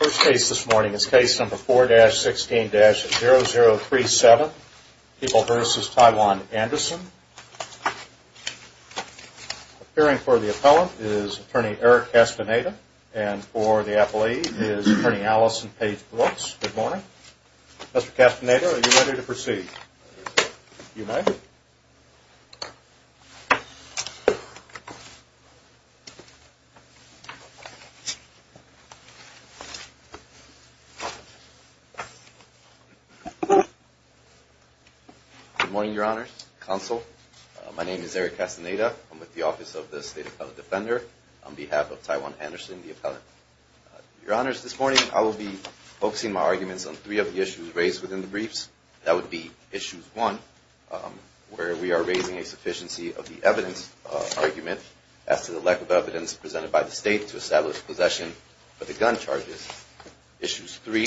The first case this morning is case number 4-16-0037, People v. Taiwan Anderson. Appearing for the appellant is attorney Eric Castaneda and for the appellee is attorney Allison Paige Brooks. Good morning. Mr. Castaneda, are you ready to proceed? Good morning, Your Honor. Counsel, my name is Eric Castaneda. I'm with the Office of the State Appellate Defender on behalf of Taiwan Anderson, the appellant. Your Honors, this morning I will be focusing my arguments on three of the issues raised within the briefs. That would be Issues 1, where we are raising a sufficiency of the evidence argument as to the lack of evidence presented by the state to establish possession of the gun charges. Issues 3,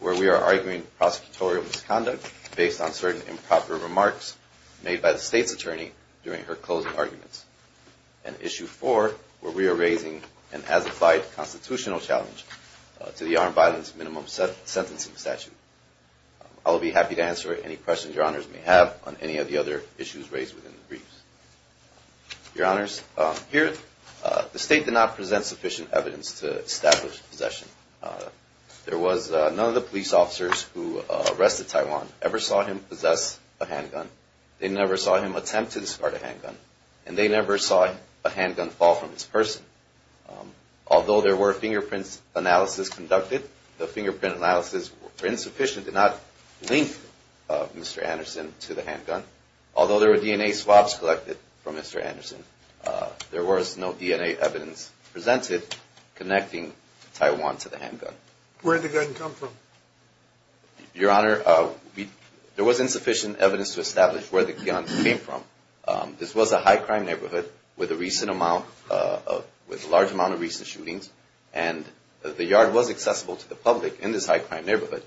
where we are arguing prosecutorial misconduct based on certain improper remarks made by the state's attorney during her closing arguments. And Issue 4, where we are raising an as-applied constitutional challenge to the armed violence minimum sentencing statute. I will be happy to answer any questions Your Honors may have on any of the other issues raised within the briefs. Your Honors, here the state did not present sufficient evidence to establish possession. There was none of the police officers who arrested Taiwan ever saw him possess a handgun. They never saw him attempt to discard a handgun. And they never saw a handgun fall from his purse. Although there were fingerprints analysis conducted, the fingerprint analysis were insufficient to not link Mr. Anderson to the handgun. Although there were DNA swabs collected from Mr. Anderson, there was no DNA evidence presented connecting Taiwan to the handgun. Where did the gun come from? Your Honor, there was insufficient evidence to establish where the gun came from. This was a high-crime neighborhood with a large amount of recent shootings, and the yard was accessible to the public in this high-crime neighborhood.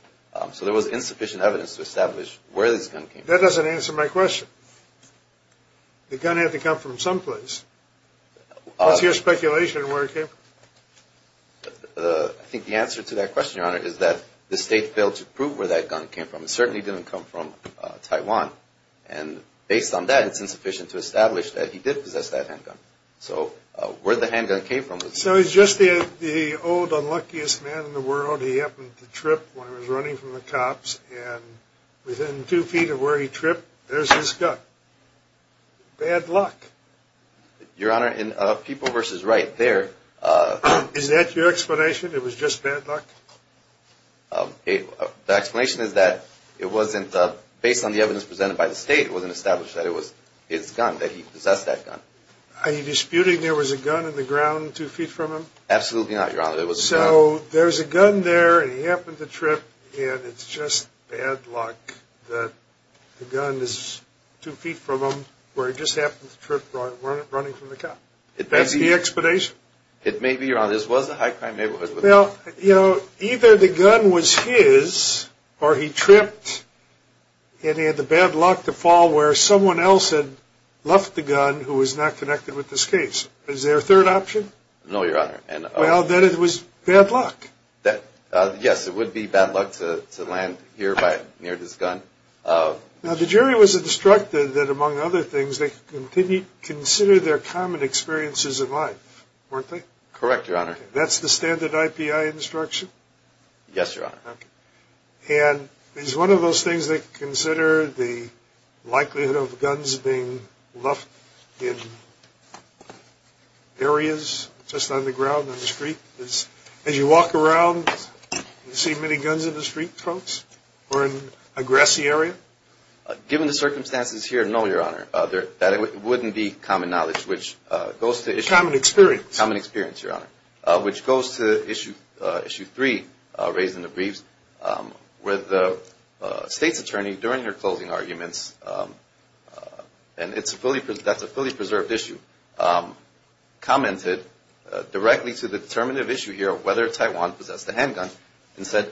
So there was insufficient evidence to establish where this gun came from. That doesn't answer my question. The gun had to come from someplace. What's your speculation on where it came from? I think the answer to that question, Your Honor, is that the state failed to prove where that gun came from. It certainly didn't come from Taiwan. And based on that, it's insufficient to establish that he did possess that handgun. So where the handgun came from was… So he's just the old unluckiest man in the world. He happened to trip when he was running from the cops, and within two feet of where he tripped, there's his gun. Bad luck. Your Honor, in People v. Wright, there… Is that your explanation, it was just bad luck? The explanation is that it wasn't… Based on the evidence presented by the state, it wasn't established that it was his gun, that he possessed that gun. Are you disputing there was a gun in the ground two feet from him? Absolutely not, Your Honor. So there's a gun there, and he happened to trip, and it's just bad luck that the gun is two feet from him where he just happened to trip while running from the cops. That's the explanation? It may be, Your Honor. This was a high-crime neighborhood. Well, you know, either the gun was his, or he tripped, and he had the bad luck to fall where someone else had left the gun who was not connected with this case. Is there a third option? No, Your Honor. Well, then it was bad luck. Yes, it would be bad luck to land here near this gun. Now, the jury was instructed that, among other things, they should consider their common experiences in life, weren't they? Correct, Your Honor. That's the standard IPI instruction? Yes, Your Honor. Okay. And is one of those things they consider the likelihood of guns being left in areas just on the ground on the street? As you walk around, do you see many guns in the street, folks, or in a grassy area? Given the circumstances here, no, Your Honor. That wouldn't be common knowledge, which goes to issue. Common experience. Common experience, Your Honor, which goes to issue three, raised in the briefs, where the state's attorney, during her closing arguments, and that's a fully preserved issue, commented directly to the determinative issue here of whether Taiwan possessed a handgun and said,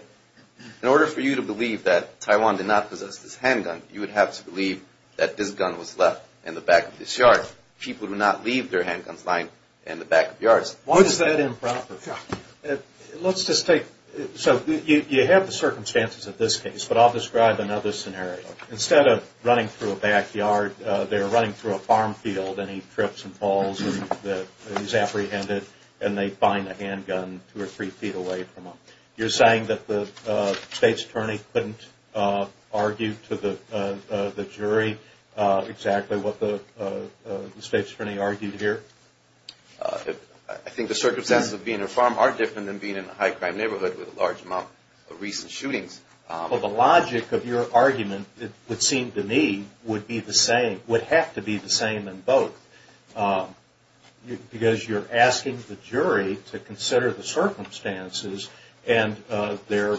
in order for you to believe that Taiwan did not possess this handgun, you would have to believe that this gun was left in the back of this yard. People do not leave their handguns lying in the back of yards. Why is that improper? Let's just take – so you have the circumstances of this case, but I'll describe another scenario. Instead of running through a backyard, they're running through a farm field, and he trips and falls, and he's apprehended, and they find a handgun two or three feet away from him. You're saying that the state's attorney couldn't argue to the jury exactly what the state's attorney argued here? I think the circumstances of being in a farm are different than being in a high-crime neighborhood with a large amount of recent shootings. Well, the logic of your argument, it would seem to me, would be the same, would have to be the same in both, because you're asking the jury to consider the circumstances and their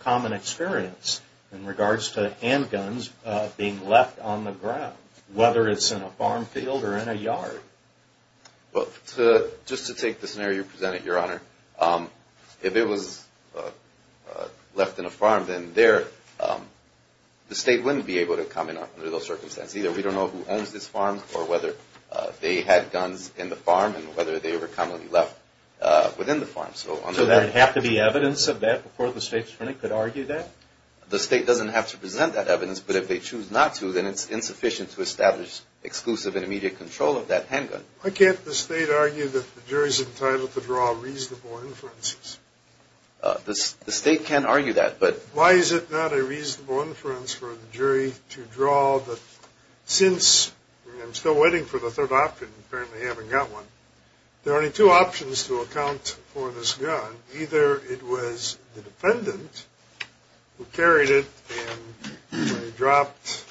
common experience in regards to handguns being left on the ground, whether it's in a farm field or in a yard. Well, just to take the scenario you presented, Your Honor, if it was left in a farm, then there, the state wouldn't be able to comment on it under those circumstances. Either we don't know who owns this farm or whether they had guns in the farm and whether they were commonly left within the farm. So there would have to be evidence of that before the state's attorney could argue that? The state doesn't have to present that evidence, but if they choose not to, then it's insufficient to establish exclusive and immediate control of that handgun. Why can't the state argue that the jury's entitled to draw reasonable inferences? The state can argue that, but – Reasonable inference for the jury to draw that since – I'm still waiting for the third option. Apparently, I haven't got one. There are only two options to account for this gun. Either it was the defendant who carried it and when he dropped it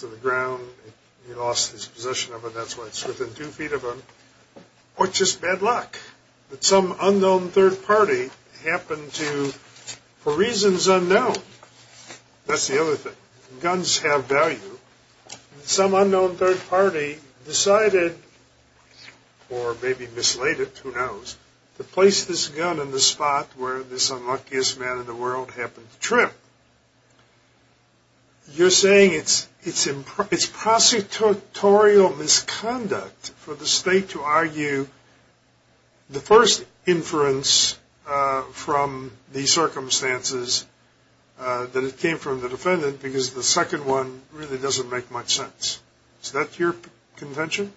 to the ground, he lost his possession of it. That's why it's within two feet of him. Or it's just bad luck that some unknown third party happened to, for reasons unknown – that's the other thing. Guns have value. Some unknown third party decided, or maybe mislaid it, who knows, to place this gun in the spot where this unluckiest man in the world happened to trip. You're saying it's prosecutorial misconduct for the state to argue the first inference from the circumstances that it came from the defendant because the second one really doesn't make much sense. Is that your convention?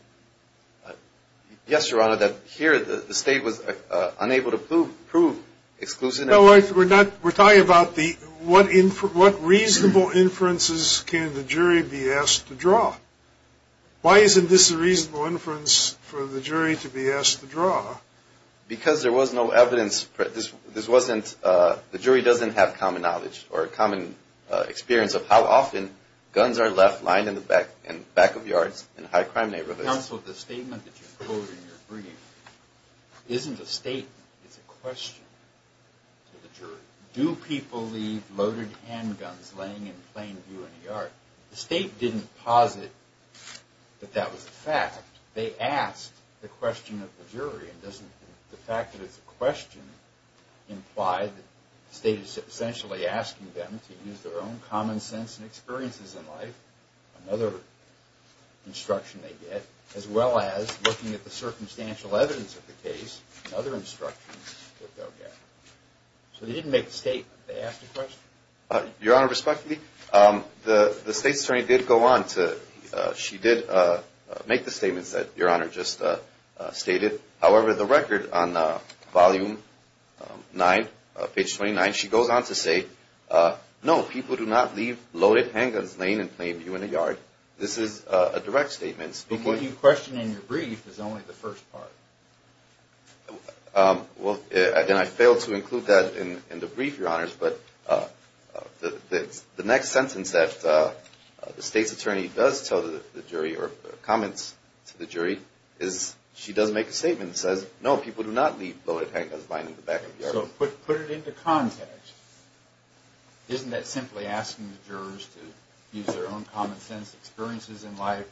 Yes, Your Honor. Here, the state was unable to prove exclusive – No, we're talking about the – what reasonable inferences can the jury be asked to draw? Why isn't this a reasonable inference for the jury to be asked to draw? Because there was no evidence – this wasn't – the jury doesn't have common knowledge or common experience of how often guns are left lying in the back of yards in high crime neighborhoods. Counsel, the statement that you quote in your brief isn't a statement. It's a question to the jury. Do people leave loaded handguns laying in plain view in a yard? The state didn't posit that that was a fact. They asked the question of the jury. And doesn't the fact that it's a question imply that the state is essentially asking them to use their own common sense and experiences in life, another instruction they get, as well as looking at the circumstantial evidence of the case, another instruction that they'll get. So they didn't make a statement. They asked a question. Your Honor, respectfully, the state's attorney did go on to – she did make the statements that Your Honor just stated. However, the record on volume 9, page 29, she goes on to say, no, people do not leave loaded handguns laying in plain view in a yard. This is a direct statement. But what you question in your brief is only the first part. Well, again, I failed to include that in the brief, Your Honors, but the next sentence that the state's attorney does tell the jury or comments to the jury is she does make a statement that says, no, people do not leave loaded handguns lying in the back of the yard. So put it into context. Isn't that simply asking the jurors to use their own common sense experiences in life,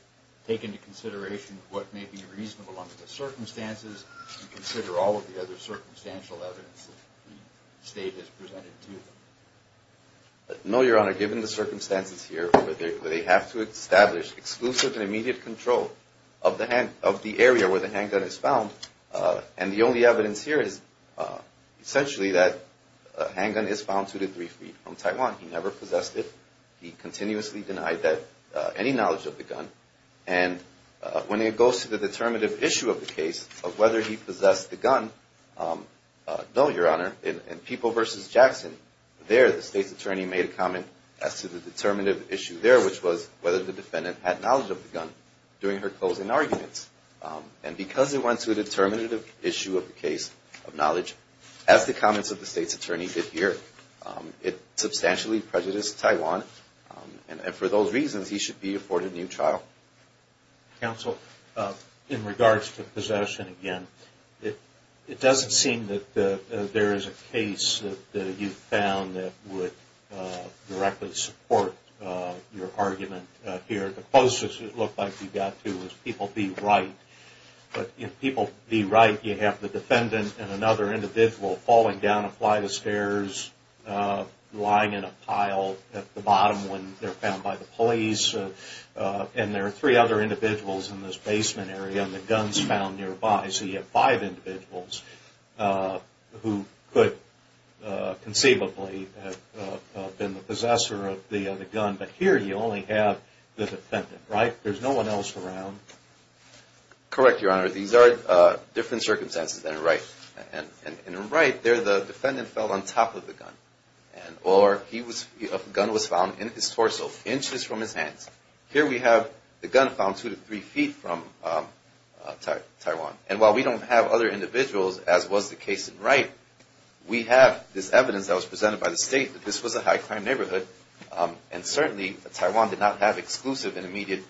take into consideration what may be reasonable under the circumstances, and consider all of the other circumstantial evidence that the state has presented to them? No, Your Honor. Given the circumstances here where they have to establish exclusive and immediate control of the area where the handgun is found, and the only evidence here is essentially that a handgun is found two to three feet from Taiwan. He never possessed it. He continuously denied any knowledge of the gun. And when it goes to the determinative issue of the case of whether he possessed the gun, no, Your Honor. In People v. Jackson, there the state's attorney made a comment as to the determinative issue there, which was whether the defendant had knowledge of the gun during her closing arguments. And because it went to a determinative issue of the case of knowledge, as the comments of the state's attorney did here, it substantially prejudiced Taiwan. And for those reasons, he should be afforded a new trial. Counsel, in regards to possession again, it doesn't seem that there is a case that you found that would directly support your argument here. The closest it looked like you got to was People v. Wright. But in People v. Wright, you have the defendant and another individual falling down a flight of stairs, lying in a pile at the bottom when they're found by the police. And there are three other individuals in this basement area, and the gun's found nearby. So you have five individuals who could conceivably have been the possessor of the gun. But here you only have the defendant, right? There's no one else around. Correct, Your Honor. These are different circumstances than in Wright. In Wright, the defendant fell on top of the gun, or a gun was found in his torso, inches from his hands. Here we have the gun found two to three feet from Taiwan. And while we don't have other individuals, as was the case in Wright, we have this evidence that was presented by the state that this was a high-crime neighborhood, and certainly Taiwan did not have exclusive and immediate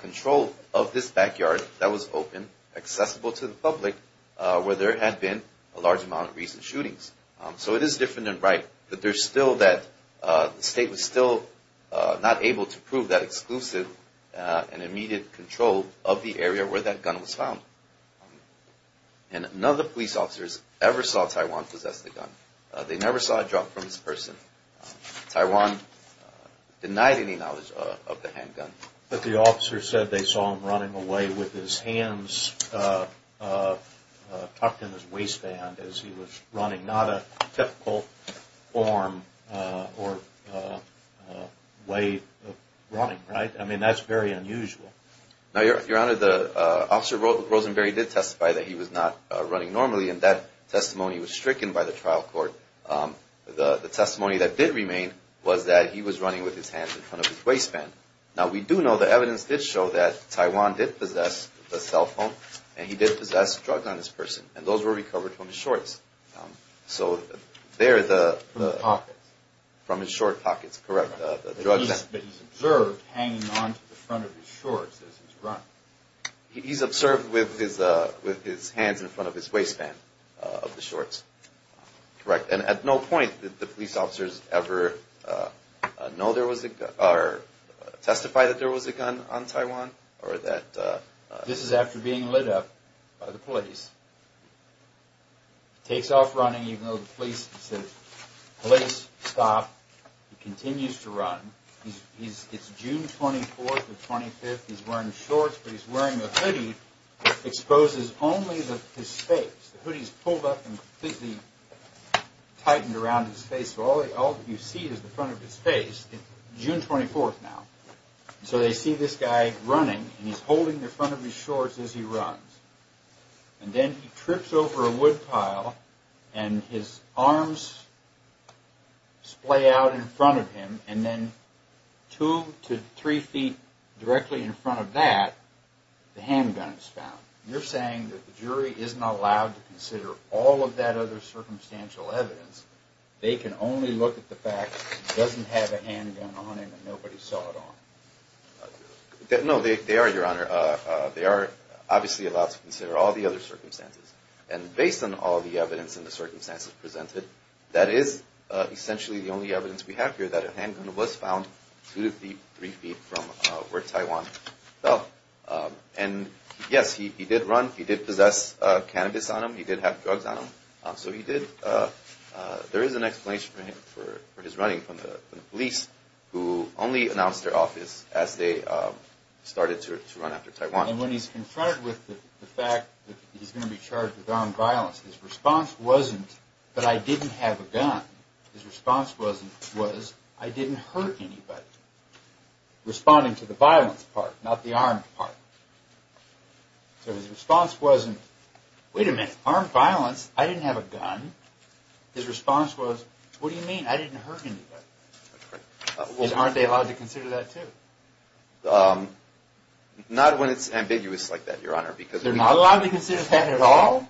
control of this backyard that was open, accessible to the public, where there had been a large amount of recent shootings. So it is different in Wright, but there's still that the state was still not able to prove that exclusive and immediate control of the area where that gun was found. And none of the police officers ever saw Taiwan possess the gun. They never saw a drop from this person. Taiwan denied any knowledge of the handgun. But the officer said they saw him running away with his hands tucked in his waistband as he was running, not a typical form or way of running, right? I mean, that's very unusual. Now, Your Honor, Officer Rosenberry did testify that he was not running normally, and that testimony was stricken by the trial court. The testimony that did remain was that he was running with his hands in front of his waistband. Now, we do know that evidence did show that Taiwan did possess a cell phone, and he did possess drugs on this person, and those were recovered from his shorts. So they're the pockets. From his short pockets, correct, the drugs. But he's observed hanging on to the front of his shorts as he's running. He's observed with his hands in front of his waistband of the shorts, correct. And at no point did the police officers ever know there was a gun or testify that there was a gun on Taiwan? This is after being lit up by the police. He takes off running, even though the police said, police, stop. He continues to run. It's June 24th or 25th. He's wearing shorts, but he's wearing a hoodie that exposes only his face. The hoodie's pulled up and completely tightened around his face, so all you see is the front of his face. It's June 24th now. So they see this guy running, and he's holding the front of his shorts as he runs. And then he trips over a wood pile, and his arms splay out in front of him, and then two to three feet directly in front of that, the handgun is found. You're saying that the jury isn't allowed to consider all of that other circumstantial evidence. They can only look at the fact that he doesn't have a handgun on him and nobody saw it on him. No, they are, Your Honor. They are obviously allowed to consider all the other circumstances. And based on all the evidence and the circumstances presented, that is essentially the only evidence we have here, that a handgun was found two to three feet from where Taiwan fell. And yes, he did run. He did possess cannabis on him. He did have drugs on him. So there is an explanation for his running from the police, who only announced their office as they started to run after Taiwan. And when he's confronted with the fact that he's going to be charged with armed violence, his response wasn't, but I didn't have a gun. His response was, I didn't hurt anybody. Responding to the violence part, not the armed part. So his response wasn't, wait a minute, armed violence, I didn't have a gun. His response was, what do you mean, I didn't hurt anybody. Aren't they allowed to consider that too? Not when it's ambiguous like that, Your Honor. They're not allowed to consider that at all?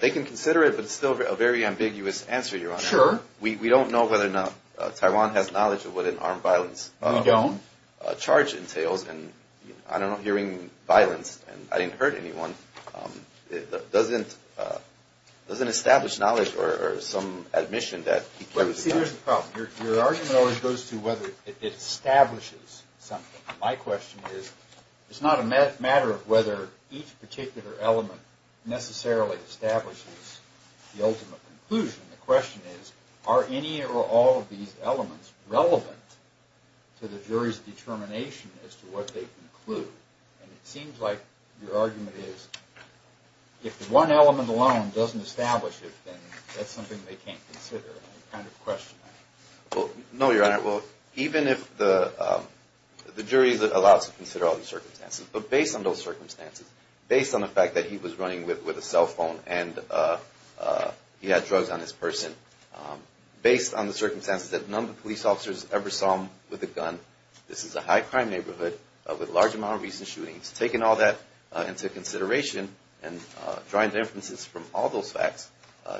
They can consider it, but it's still a very ambiguous answer, Your Honor. Sure. We don't know whether or not Taiwan has knowledge of what an armed violence charge entails. We don't. And I don't know, hearing violence, I didn't hurt anyone, doesn't establish knowledge or some admission that he could have done it. See, there's a problem. Your argument always goes to whether it establishes something. My question is, it's not a matter of whether each particular element necessarily establishes the ultimate conclusion. The question is, are any or all of these elements relevant to the jury's determination as to what they conclude? And it seems like your argument is, if one element alone doesn't establish it, then that's something they can't consider. I kind of question that. No, Your Honor. Even if the jury is allowed to consider all the circumstances, but based on those circumstances, based on the fact that he was running with a cell phone and he had drugs on his person, based on the circumstances that none of the police officers ever saw him with a gun, this is a high-crime neighborhood with a large amount of recent shootings. Taking all that into consideration and drawing inferences from all those facts,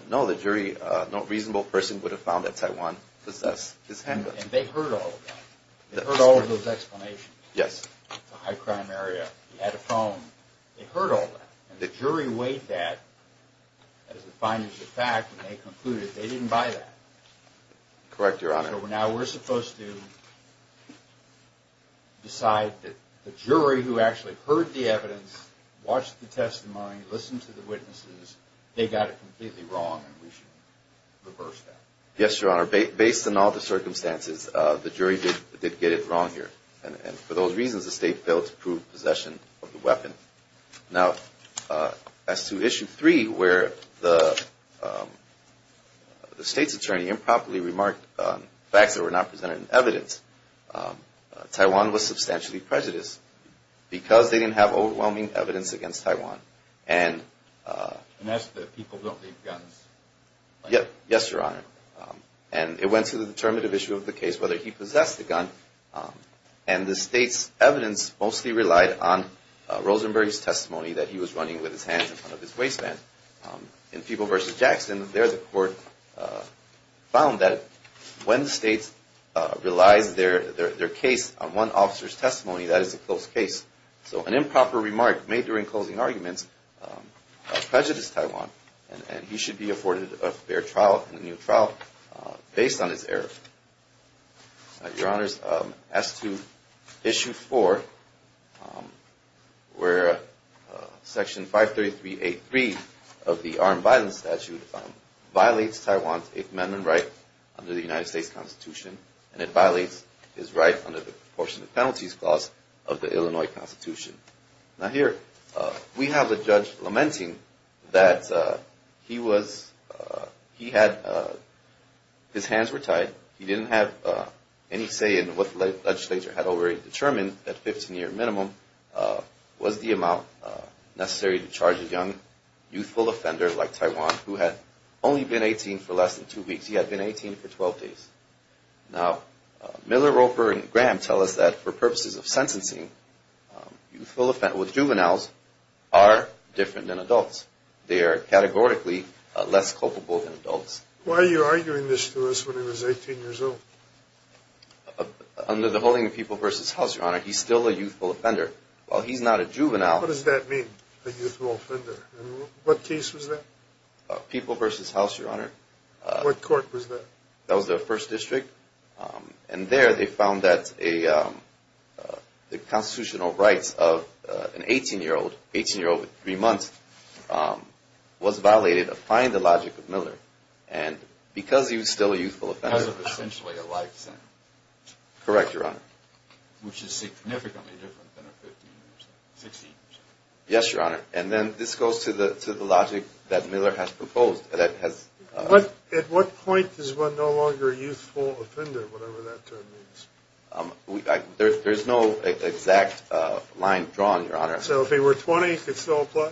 no, the jury, no reasonable person would have found that Taiwan possessed his handgun. And they heard all of that. They heard all of those explanations. Yes. It's a high-crime area. He had a phone. They heard all that. And the jury weighed that as the findings of fact, and they concluded they didn't buy that. Correct, Your Honor. So now we're supposed to decide that the jury who actually heard the evidence, watched the testimony, listened to the witnesses, they got it completely wrong, and we should reverse that. Yes, Your Honor. Based on all the circumstances, the jury did get it wrong here. And for those reasons, the State failed to prove possession of the weapon. Now, as to Issue 3, where the State's attorney improperly remarked facts that were not presented in evidence, Taiwan was substantially prejudiced because they didn't have overwhelming evidence against Taiwan. And that's the people don't leave guns. Yes, Your Honor. And it went to the determinative issue of the case whether he possessed the gun. And the State's evidence mostly relied on Rosenberg's testimony that he was running with his hands in front of his waistband. In People v. Jackson, there the court found that when the State relies their case on one officer's testimony, that is a close case. So an improper remark made during closing arguments prejudiced Taiwan. And he should be afforded a fair trial, a new trial, based on his error. Your Honors, as to Issue 4, where Section 533.8.3 of the armed violence statute violates Taiwan's Eighth Amendment right under the United States Constitution, and it violates his right under the Proportion of Penalties Clause of the Illinois Constitution. Now, here we have the judge lamenting that he was – he had – his hands were tied. He didn't have any say in what the legislature had already determined. At 15-year minimum, was the amount necessary to charge a young, youthful offender like Taiwan, who had only been 18 for less than two weeks. He had been 18 for 12 days. Now, Miller, Roper, and Graham tell us that for purposes of sentencing, youthful – with juveniles are different than adults. They are categorically less culpable than adults. Why are you arguing this to us when he was 18 years old? Under the holding of People v. House, Your Honor, he's still a youthful offender. While he's not a juvenile – What does that mean, a youthful offender? What case was that? People v. House, Your Honor. What court was that? That was their first district. And there, they found that a – the constitutional rights of an 18-year-old – 18-year-old with three months – was violated, applying the logic of Miller. And because he was still a youthful offender – Because of essentially a life sentence. Correct, Your Honor. Which is significantly different than a 15-year sentence – 16 years sentence. Yes, Your Honor. And then this goes to the logic that Miller has proposed. At what point is one no longer a youthful offender, whatever that term means? There's no exact line drawn, Your Honor. So if he were 20, he could still apply?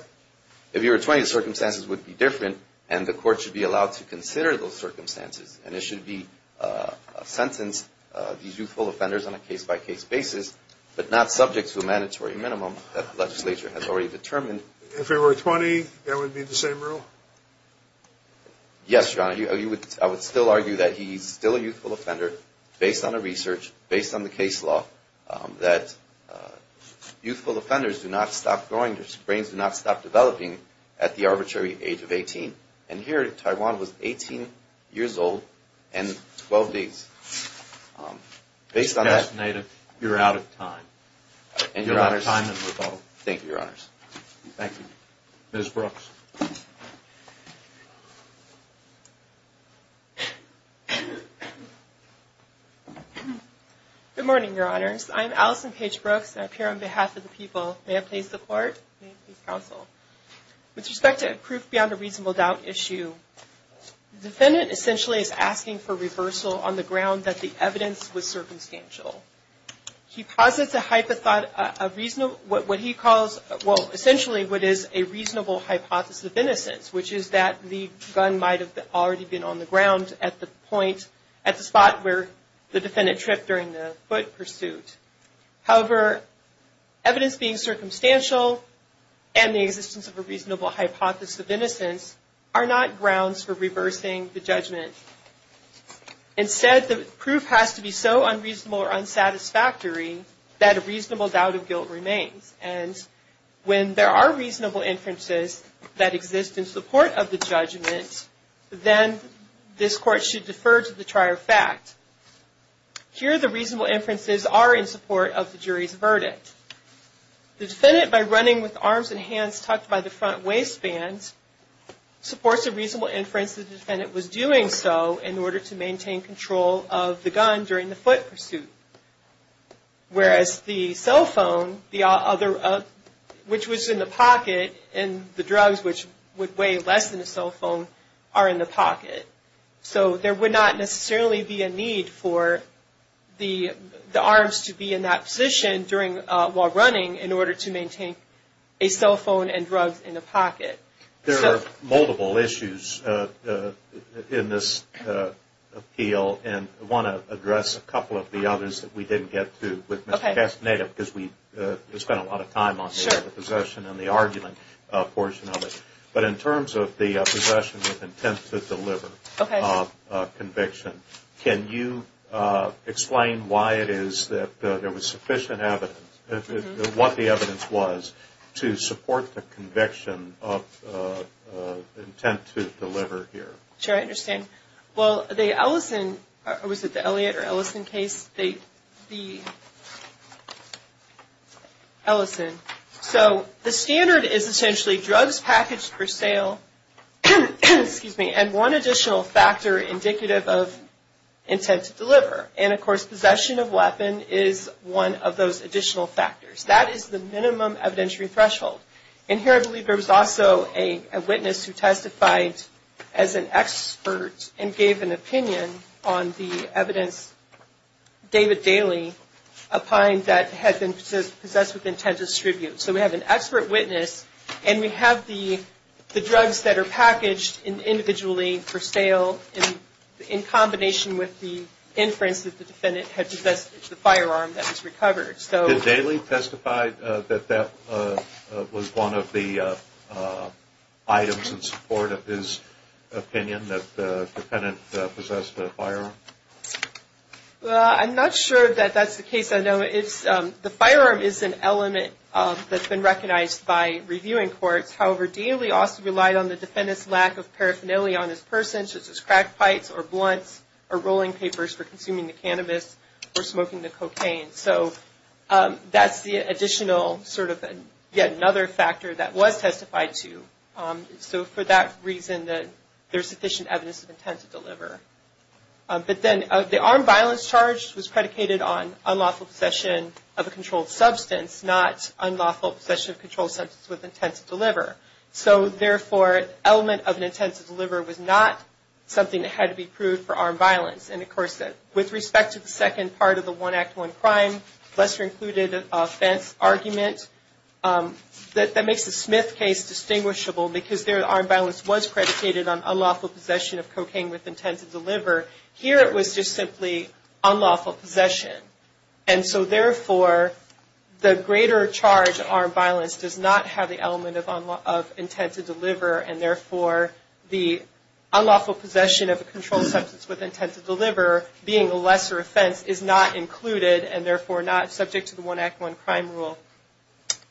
If he were 20, the circumstances would be different, and the court should be allowed to consider those circumstances. And it should be a sentence, these youthful offenders on a case-by-case basis, but not subject to a mandatory minimum that the legislature has already determined. If he were 20, that would be the same rule? Yes, Your Honor. I would still argue that he's still a youthful offender based on the research, based on the case law, that youthful offenders do not stop growing – their brains do not stop developing at the arbitrary age of 18. And here, Taiwan was 18 years old and 12 days. Based on that, you're out of time. Thank you, Your Honors. Thank you. Ms. Brooks. Good morning, Your Honors. I'm Allison Paige Brooks, and I appear on behalf of the people. May I please support? May I please counsel? With respect to a proof beyond a reasonable doubt issue, the defendant essentially is asking for reversal on the ground that the evidence was circumstantial. He posits a reasonable hypothesis of innocence, which is that the gun might have already been on the ground at the point, at the spot where the defendant tripped during the foot pursuit. However, evidence being circumstantial and the existence of a reasonable hypothesis of innocence are not grounds for reversing the judgment. Instead, the proof has to be so unreasonable or unsatisfactory that a reasonable doubt of guilt remains. And when there are reasonable inferences that exist in support of the judgment, then this Court should defer to the trier fact. Here, the reasonable inferences are in support of the jury's verdict. The defendant, by running with arms and hands tucked by the front waistband, supports a reasonable inference that the defendant was doing so in order to maintain control of the gun during the foot pursuit. Whereas the cell phone, which was in the pocket, and the drugs, which would weigh less than a cell phone, are in the pocket. So there would not necessarily be a need for the arms to be in that position while running in order to maintain a cell phone and drugs in the pocket. There are multiple issues in this appeal, and I want to address a couple of the others that we didn't get to with Mr. Castaneda, because we spent a lot of time on the possession and the argument portion of it. But in terms of the possession with intent to deliver conviction, can you explain why it is that there was sufficient evidence, what the evidence was to support the conviction of intent to deliver here? Sure, I understand. Well, the Ellison, or was it the Elliott or Ellison case? The Ellison. So the standard is essentially drugs packaged for sale, and one additional factor indicative of intent to deliver. And, of course, possession of weapon is one of those additional factors. That is the minimum evidentiary threshold. And here I believe there was also a witness who testified as an expert and gave an opinion on the evidence, David Daly, opined that had been possessed with intent to distribute. So we have an expert witness, and we have the drugs that are packaged individually for sale in combination with the inference that the defendant had possessed the firearm that was recovered. Did Daly testify that that was one of the items in support of his opinion, that the defendant possessed a firearm? Well, I'm not sure that that's the case. I know the firearm is an element that's been recognized by reviewing courts. However, Daly also relied on the defendant's lack of paraphernalia on his person, such as crackpipes or blunts or rolling papers for consuming the cannabis or smoking the cocaine. So that's the additional sort of yet another factor that was testified to. But then the armed violence charge was predicated on unlawful possession of a controlled substance, not unlawful possession of a controlled substance with intent to deliver. So therefore, element of an intent to deliver was not something that had to be proved for armed violence. And, of course, with respect to the second part of the One Act, One Crime, lesser included offense argument, that makes the Smith case distinguishable because there armed violence was an element of intent to deliver. Here it was just simply unlawful possession. And so, therefore, the greater charge of armed violence does not have the element of intent to deliver. And, therefore, the unlawful possession of a controlled substance with intent to deliver, being a lesser offense, is not included and, therefore, not subject to the One Act, One Crime rule.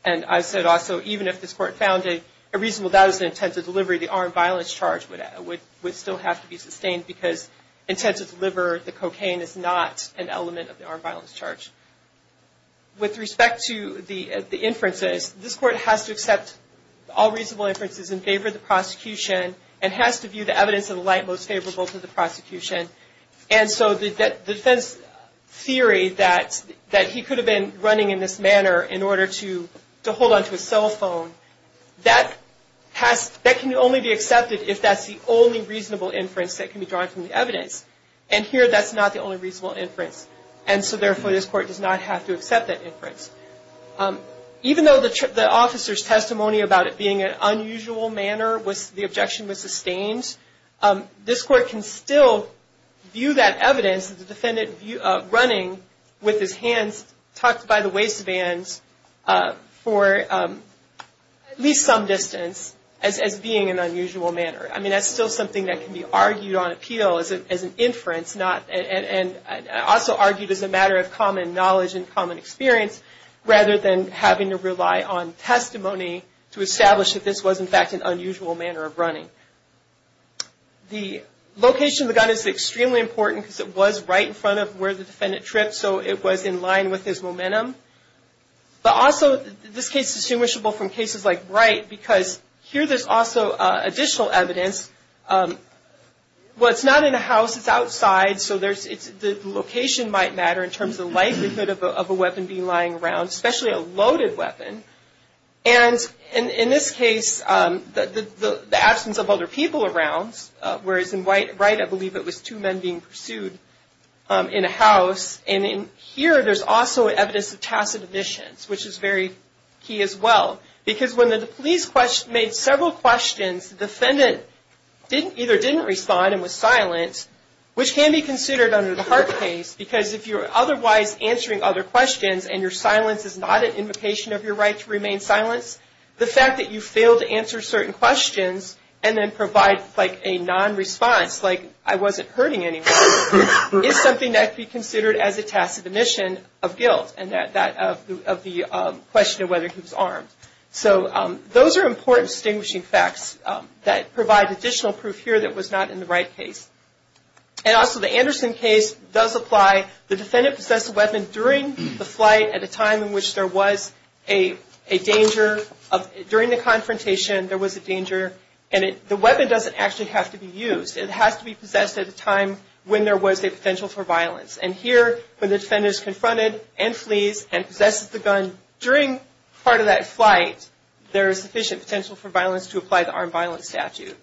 And I said also, even if this court found a reasonable that was the intent to deliver, the armed violence charge would still have to be sustained because intent to deliver the cocaine is not an element of the armed violence charge. With respect to the inferences, this court has to accept all reasonable inferences in favor of the prosecution and has to view the evidence in the light most favorable to the prosecution. And so the defense theory that he could have been running in this manner in order to hold onto a cell phone, that can only be accepted if that's the only reasonable inference that can be drawn from the evidence. And here that's not the only reasonable inference. And so, therefore, this court does not have to accept that inference. Even though the officer's testimony about it being an unusual manner, the objection was sustained, this court can still view that evidence, the defendant running with his hands tucked by the waistband for at least some distance as being an unusual manner. I mean, that's still something that can be argued on appeal as an inference, and also argued as a matter of common knowledge and common experience, rather than having to rely on testimony to establish that this was, in fact, an unusual manner of running. The location of the gun is extremely important because it was right in front of where the defendant tripped, so it was in line with his momentum. But also, this case is distinguishable from cases like Wright because here there's also additional evidence. Well, it's not in a house, it's outside, so the location might matter in terms of the likelihood of a weapon being lying around, especially a loaded weapon. And in this case, the absence of other people around, whereas in Wright, I believe it was two men being pursued in a house. And in here, there's also evidence of tacit admissions, which is very key as well. Because when the police made several questions, the defendant either didn't respond and was silent, which can be considered under the Hart case, because if you're otherwise answering other questions and your silence is not an invocation of your right to remain silent, the fact that you failed to answer certain questions and then provide, like, a non-response, like I wasn't hurting anyone, is something that could be considered as a tacit admission of guilt and that of the question of whether he was armed. So those are important distinguishing facts that provide additional proof here that was not in the Wright case. And also the Anderson case does apply. The defendant possessed a weapon during the flight at a time in which there was a danger. During the confrontation, there was a danger. And the weapon doesn't actually have to be used. It has to be possessed at a time when there was a potential for violence. And here, when the defendant is confronted and flees and possesses the gun during part of that flight, there is sufficient potential for violence to apply the armed violence statute.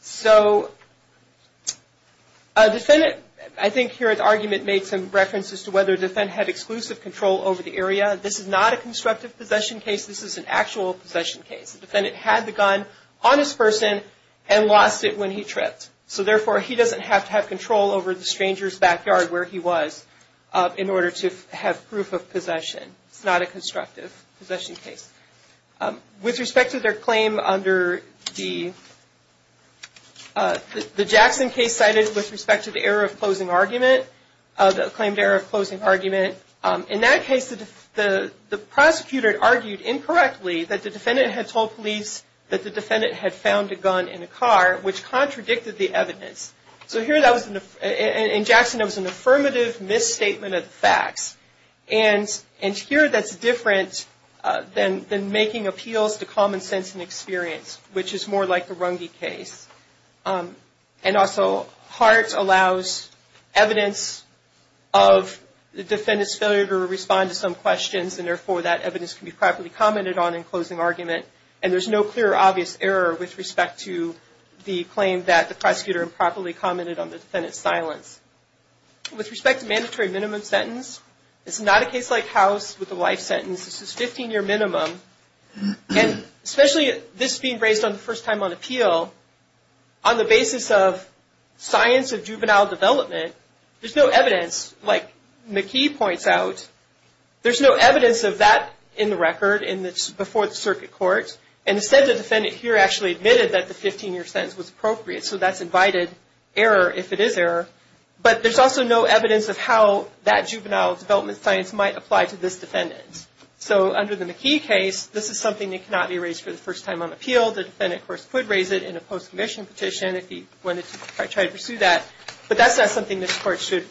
So a defendant, I think here the argument made some reference as to whether the defendant had exclusive control over the area. This is not a constructive possession case. This is an actual possession case. The defendant had the gun on his person and lost it when he tripped. So therefore, he doesn't have to have control over the stranger's backyard where he was in order to have proof of possession. It's not a constructive possession case. With respect to their claim under the Jackson case cited with respect to the error of closing argument, the claimed error of closing argument, in that case the prosecutor argued incorrectly that the defendant had told police that the defendant had found a gun in a car, which contradicted the evidence. So here, in Jackson, it was an affirmative misstatement of the facts. And here, that's different than making appeals to common sense and experience, which is more like the Runge case. And also, Hart allows evidence of the defendant's failure to respond to some questions, and therefore, that evidence can be properly commented on in closing argument. And there's no clear or obvious error with respect to the claim that the prosecutor improperly commented on the defendant's silence. With respect to mandatory minimum sentence, it's not a case like House with a life sentence. This is 15-year minimum. And especially this being raised for the first time on appeal, on the basis of science of juvenile development, there's no evidence. Like McKee points out, there's no evidence of that in the record before the circuit court. And instead, the defendant here actually admitted that the 15-year sentence was appropriate. So that's invited error, if it is error. But there's also no evidence of how that juvenile development science might apply to this defendant. So, under the McKee case, this is something that cannot be raised for the first time on appeal. The defendant, of course, could raise it in a post-commission petition if he wanted to try to pursue that. But that's not something this court should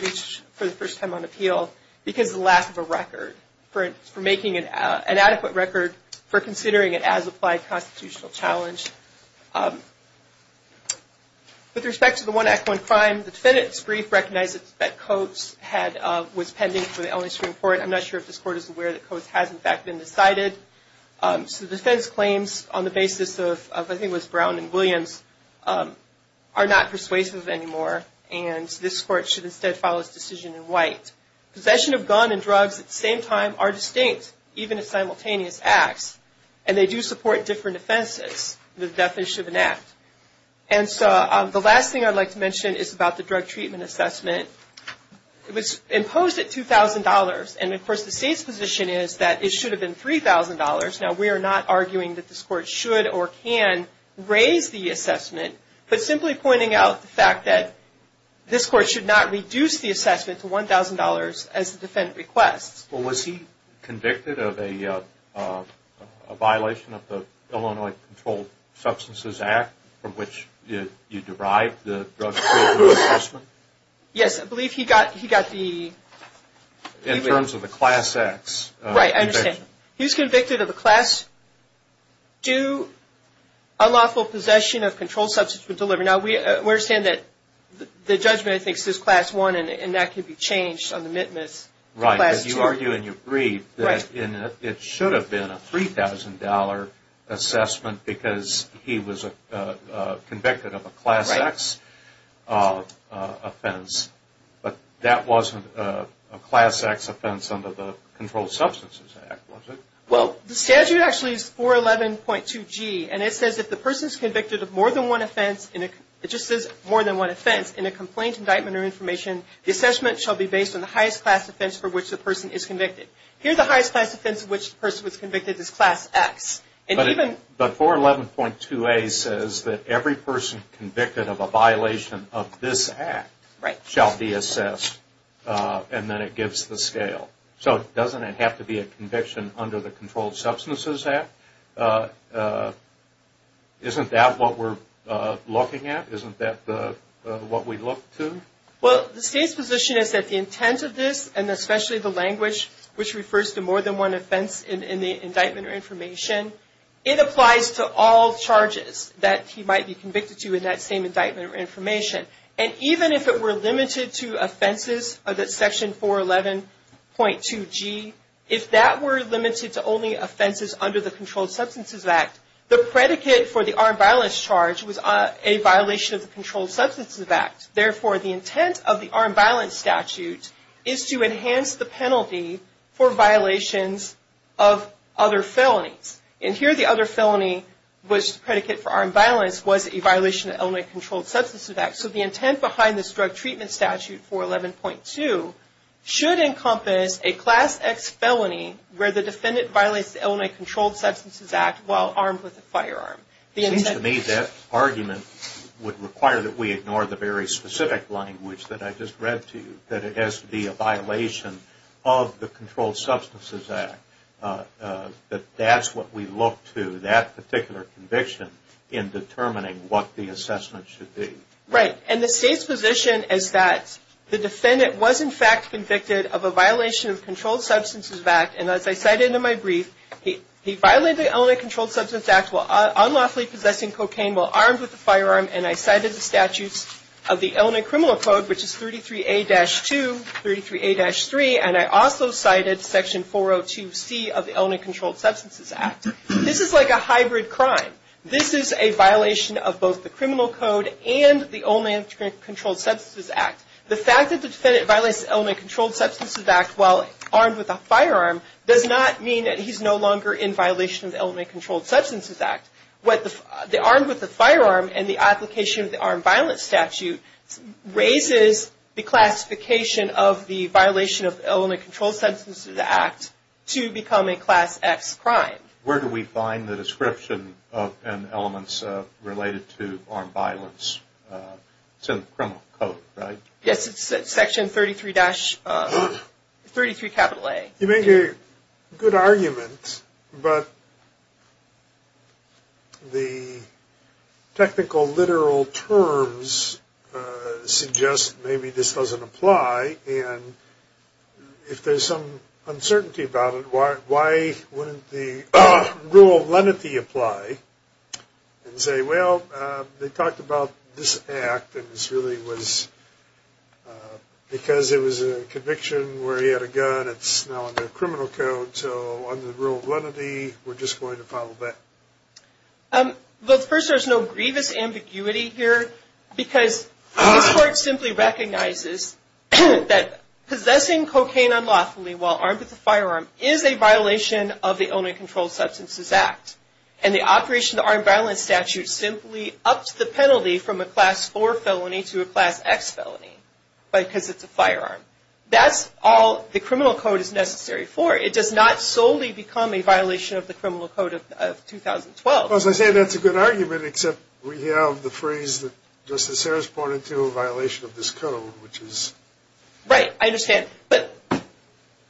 reach for the first time on appeal, because of the lack of a record for making an adequate record for considering it as applied constitutional challenge. With respect to the One Act, One Crime, the defendant's brief recognizes that Coates was pending for the Ellingston Court. I'm not sure if this court is aware that Coates has, in fact, been decided. So defense claims on the basis of, I think it was Brown and Williams, are not persuasive anymore. And this court should instead follow this decision in white. Possession of gun and drugs at the same time are distinct, even if simultaneous acts. And they do support different offenses. The defendant should enact. And so, the last thing I'd like to mention is about the drug treatment assessment. It was imposed at $2,000. And of course, the state's position is that it should have been $3,000. Now, we are not arguing that this court should or can raise the assessment, but simply pointing out the fact that this court should not reduce the assessment to $1,000 as the defendant requests. Well, was he convicted of a violation of the Illinois Controlled Substances Act, from which you derived the drug treatment assessment? Yes. I believe he got the. In terms of the Class X. Right, I understand. He was convicted of a Class II unlawful possession of controlled substances when delivered. Now, we understand that the judgment, I think, says Class I, and that could be changed on the MITMAS to Class II. Right, but you argue and you agree that it should have been a $3,000 assessment because he was convicted of a Class X offense. But that wasn't a Class X offense under the Controlled Substances Act, was it? Well, the statute actually is 411.2G, and it says if the person is convicted of more than one offense, it just says more than one offense, in a complaint, indictment, or information, the assessment shall be based on the highest class offense for which the person is convicted. Here, the highest class offense in which the person was convicted is Class X. But 411.2A says that every person convicted of a violation of this act shall be assessed, and then it gives the scale. So, doesn't it have to be a conviction under the Controlled Substances Act? Isn't that what we're looking at? Isn't that what we look to? Well, the State's position is that the intent of this, and especially the language, which refers to more than one offense in the indictment or information, it applies to all charges that he might be convicted to in that same indictment or information. And even if it were limited to offenses of that Section 411.2G, if that were limited to only offenses under the Controlled Substances Act, the predicate for the armed violence charge was a violation of the Controlled Substances Act. Therefore, the intent of the armed violence statute is to enhance the penalty for violations of other felonies. And here, the other felony was the predicate for armed violence was a violation of the Illinois Controlled Substances Act. So, the intent behind this drug treatment statute 411.2 should encompass a Class X felony where the defendant violates the Illinois Controlled Substances Act while armed with a firearm. It seems to me that argument would require that we ignore the very specific language that I just read to you, that it has to be a violation of the Controlled Substances Act, that that's what we look to, that particular conviction, in determining what the assessment should be. Right. And the State's position is that the defendant was in fact convicted of a violation of the Controlled Substances Act. And as I cited in my brief, he violated the Illinois Controlled Substances Act while unlawfully possessing cocaine while armed with a firearm. And I cited the statutes of the Illinois Criminal Code, which is 33A-2, 33A-3. And I also cited Section 402C of the Illinois Controlled Substances Act. This is like a hybrid crime. This is a violation of both the Criminal Code and the Illinois Controlled Substances Act. The fact that the defendant violates the Illinois Controlled Substances Act while armed with a firearm does not mean that he's no longer in violation of the Illinois Controlled Substances Act. What the armed with a firearm and the application of the armed violence statute raises the classification of the violation of the Illinois Controlled Substances Act to become a Class X crime. Where do we find the description and elements related to armed violence? It's in the Criminal Code, right? Yes, it's Section 33A. You make a good argument, but the technical literal terms suggest maybe this doesn't apply. And if there's some uncertainty about it, why wouldn't the rule of lenity apply and say, well, they talked about this act, and this really was because it was a conviction where he had a gun. It's now in the Criminal Code. So under the rule of lenity, we're just going to follow that. Well, first, there's no grievous ambiguity here, because this court simply recognizes that possessing cocaine unlawfully while armed with a firearm is a violation of the Illinois Controlled Substances Act, and the operation of the armed violence statute simply ups the penalty from a Class 4 felony to a Class X felony because it's a firearm. That's all the Criminal Code is necessary for. It does not solely become a violation of the Criminal Code of 2012. Well, as I said, that's a good argument, except we have the phrase that Justice Harris pointed to, a violation of this code, which is... Right. I understand. But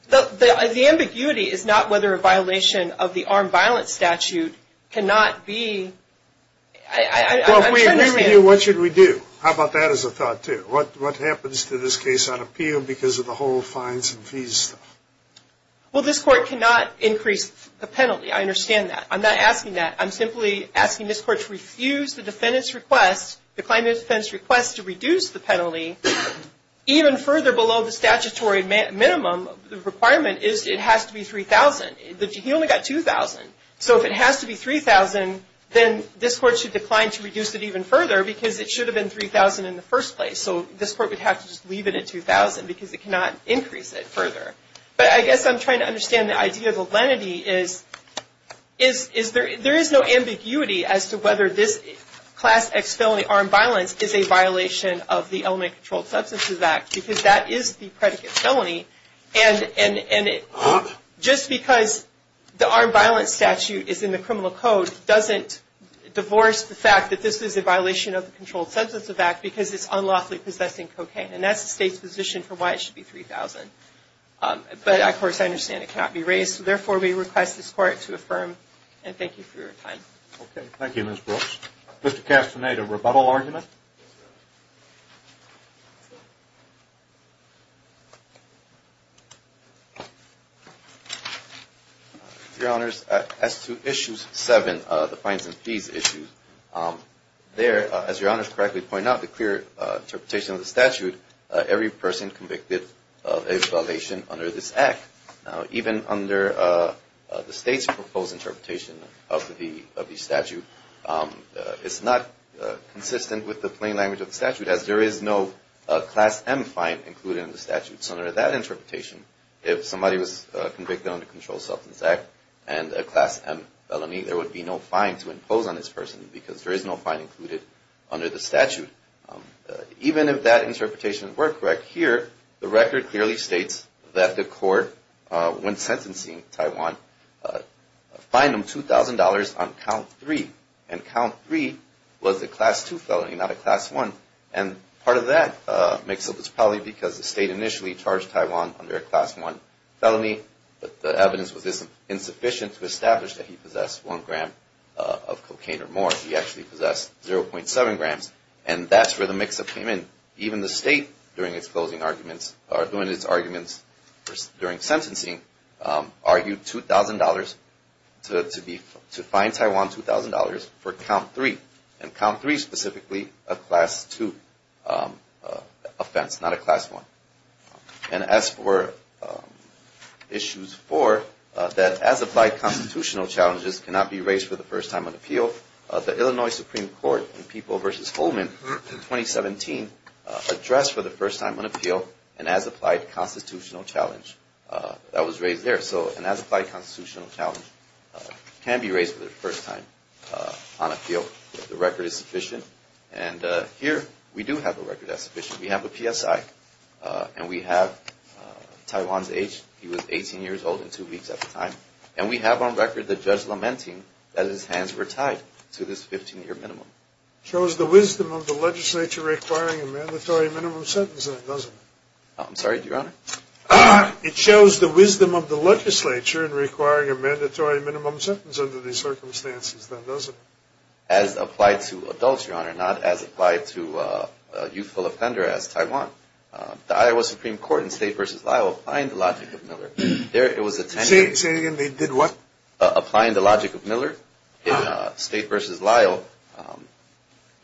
the ambiguity is not whether a violation of the armed violence statute cannot be... Well, if we agree with you, what should we do? How about that as a thought, too? What happens to this case on appeal because of the whole fines and fees stuff? Well, this court cannot increase the penalty. I understand that. I'm not asking that. I'm simply asking this court to refuse the defendant's request, decline the defendant's request to reduce the penalty even further below the statutory minimum requirement is it has to be $3,000. He only got $2,000. So if it has to be $3,000, then this court should decline to reduce it even further because it should have been $3,000 in the first place. So this court would have to just leave it at $2,000 because it cannot increase it further. But I guess I'm trying to understand the idea of the lenity is there is no ambiguity as to whether this Class X felony, armed violence, is a violation of the Elementary Controlled Substances Act because that is the predicate felony. And just because the armed violence statute is in the criminal code doesn't divorce the fact that this is a violation of the Controlled Substances Act because it's unlawfully possessing cocaine. And that's the state's position for why it should be $3,000. But, of course, I understand it cannot be raised. So, therefore, we request this court to affirm. And thank you for your time. Okay. Thank you, Ms. Brooks. Mr. Castaneda, rebuttal argument? Your Honors, as to Issue 7, the fines and fees issue, there, as Your Honors correctly pointed out, the clear interpretation of the statute, every person convicted of a violation under this Act, even under the state's proposed interpretation of the statute, is not consistent with the plain language of the statute as there is no Class M fine included in the statute. So under that interpretation, if somebody was convicted under the Controlled Substances Act and a Class M felony, there would be no fine to impose on this person because there is no fine included under the statute. Even if that interpretation were correct, here the record clearly states that the court, when sentencing Taiwan, fined him $2,000 on Count 3. And Count 3 was a Class 2 felony, not a Class 1. And part of that makes up its probably because the state initially charged Taiwan under a Class 1 felony. But the evidence was insufficient to establish that he possessed 1 gram of cocaine or more. He actually possessed 0.7 grams. And that's where the mix-up came in. Even the state, during its closing arguments, or during its arguments during sentencing, argued $2,000 to fine Taiwan $2,000 for Count 3. And Count 3 specifically, a Class 2 offense, not a Class 1. And as for Issues 4, that as-applied constitutional challenges cannot be raised for the first time on appeal, the Illinois Supreme Court in People v. Holman in 2017 addressed for the first time on appeal an as-applied constitutional challenge that was raised there. So an as-applied constitutional challenge can be raised for the first time on appeal if the record is sufficient. And here we do have a record that's sufficient. We have a PSI. And we have Taiwan's age. He was 18 years old and 2 weeks at the time. And we have on record the judge lamenting that his hands were tied to this 15-year minimum. Shows the wisdom of the legislature requiring a mandatory minimum sentence, then, doesn't it? I'm sorry, Your Honor? It shows the wisdom of the legislature in requiring a mandatory minimum sentence under these circumstances, then, doesn't it? As applied to adults, Your Honor, not as applied to a youthful offender as Taiwan. The Iowa Supreme Court in State v. Lyle applying the logic of Miller, there was a 10-year. Say it again. They did what? Applying the logic of Miller in State v. Lyle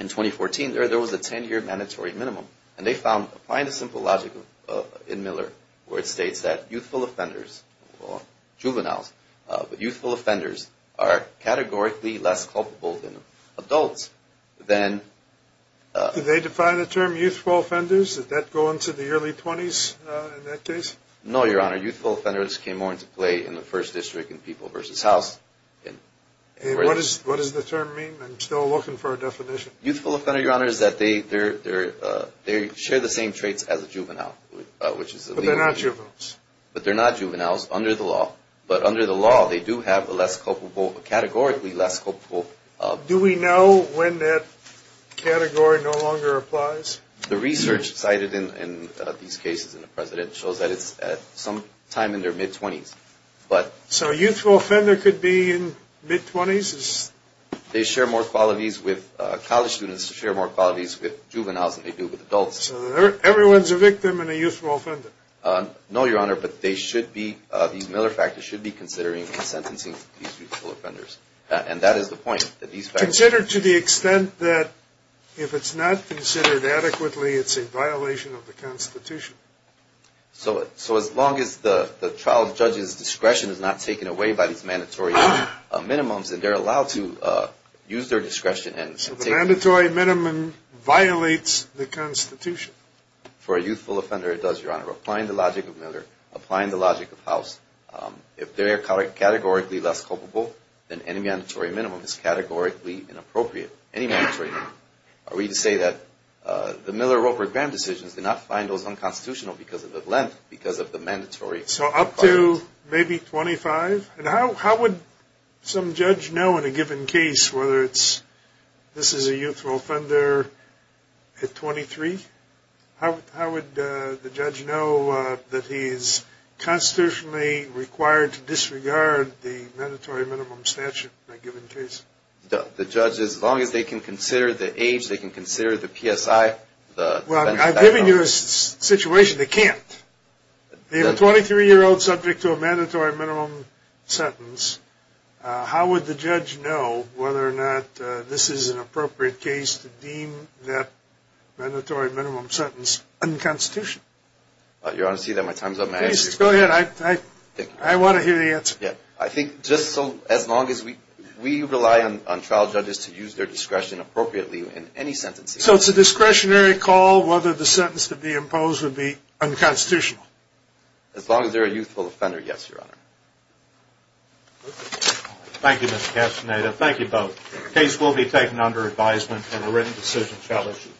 in 2014, there was a 10-year mandatory minimum. And they found applying the simple logic in Miller where it states that youthful offenders, juveniles, but youthful offenders are categorically less culpable than adults, then. Did they define the term youthful offenders? Did that go into the early 20s in that case? No, Your Honor. Youthful offenders came more into play in the first district in People v. House. What does the term mean? I'm still looking for a definition. Youthful offender, Your Honor, is that they share the same traits as a juvenile. But they're not juveniles. But they're not juveniles under the law. But under the law, they do have a less culpable, a categorically less culpable. Do we know when that category no longer applies? The research cited in these cases in the President shows that it's at some time in their mid-20s. So a youthful offender could be in mid-20s? They share more qualities with college students, share more qualities with juveniles than they do with adults. So everyone's a victim in a youthful offender? No, Your Honor, but they should be, these Miller factors should be considering in sentencing these youthful offenders. And that is the point. Consider to the extent that if it's not considered adequately, it's a violation of the Constitution. So as long as the trial judge's discretion is not taken away by these mandatory minimums, they're allowed to use their discretion. So the mandatory minimum violates the Constitution? For a youthful offender, it does, Your Honor. Applying the logic of Miller, applying the logic of House, if they are categorically less culpable, then any mandatory minimum is categorically inappropriate, any mandatory minimum. Are we to say that the Miller-Roper-Graham decisions did not find those unconstitutional because of the length, because of the mandatory? So up to maybe 25? And how would some judge know in a given case whether this is a youthful offender at 23? How would the judge know that he is constitutionally required to disregard the mandatory minimum statute in a given case? The judge, as long as they can consider the age, they can consider the PSI. Well, I've given you a situation they can't. They have a 23-year-old subject to a mandatory minimum sentence. How would the judge know whether or not this is an appropriate case to deem that mandatory minimum sentence unconstitutional? Your Honor, I see that my time is up. Go ahead. I want to hear the answer. I think just as long as we rely on trial judges to use their discretion appropriately in any sentence. So it's a discretionary call whether the sentence to be imposed would be unconstitutional? As long as they're a youthful offender, yes, Your Honor. Thank you, Mr. Castaneda. Thank you both. The case will be taken under advisement and a written decision shall issue.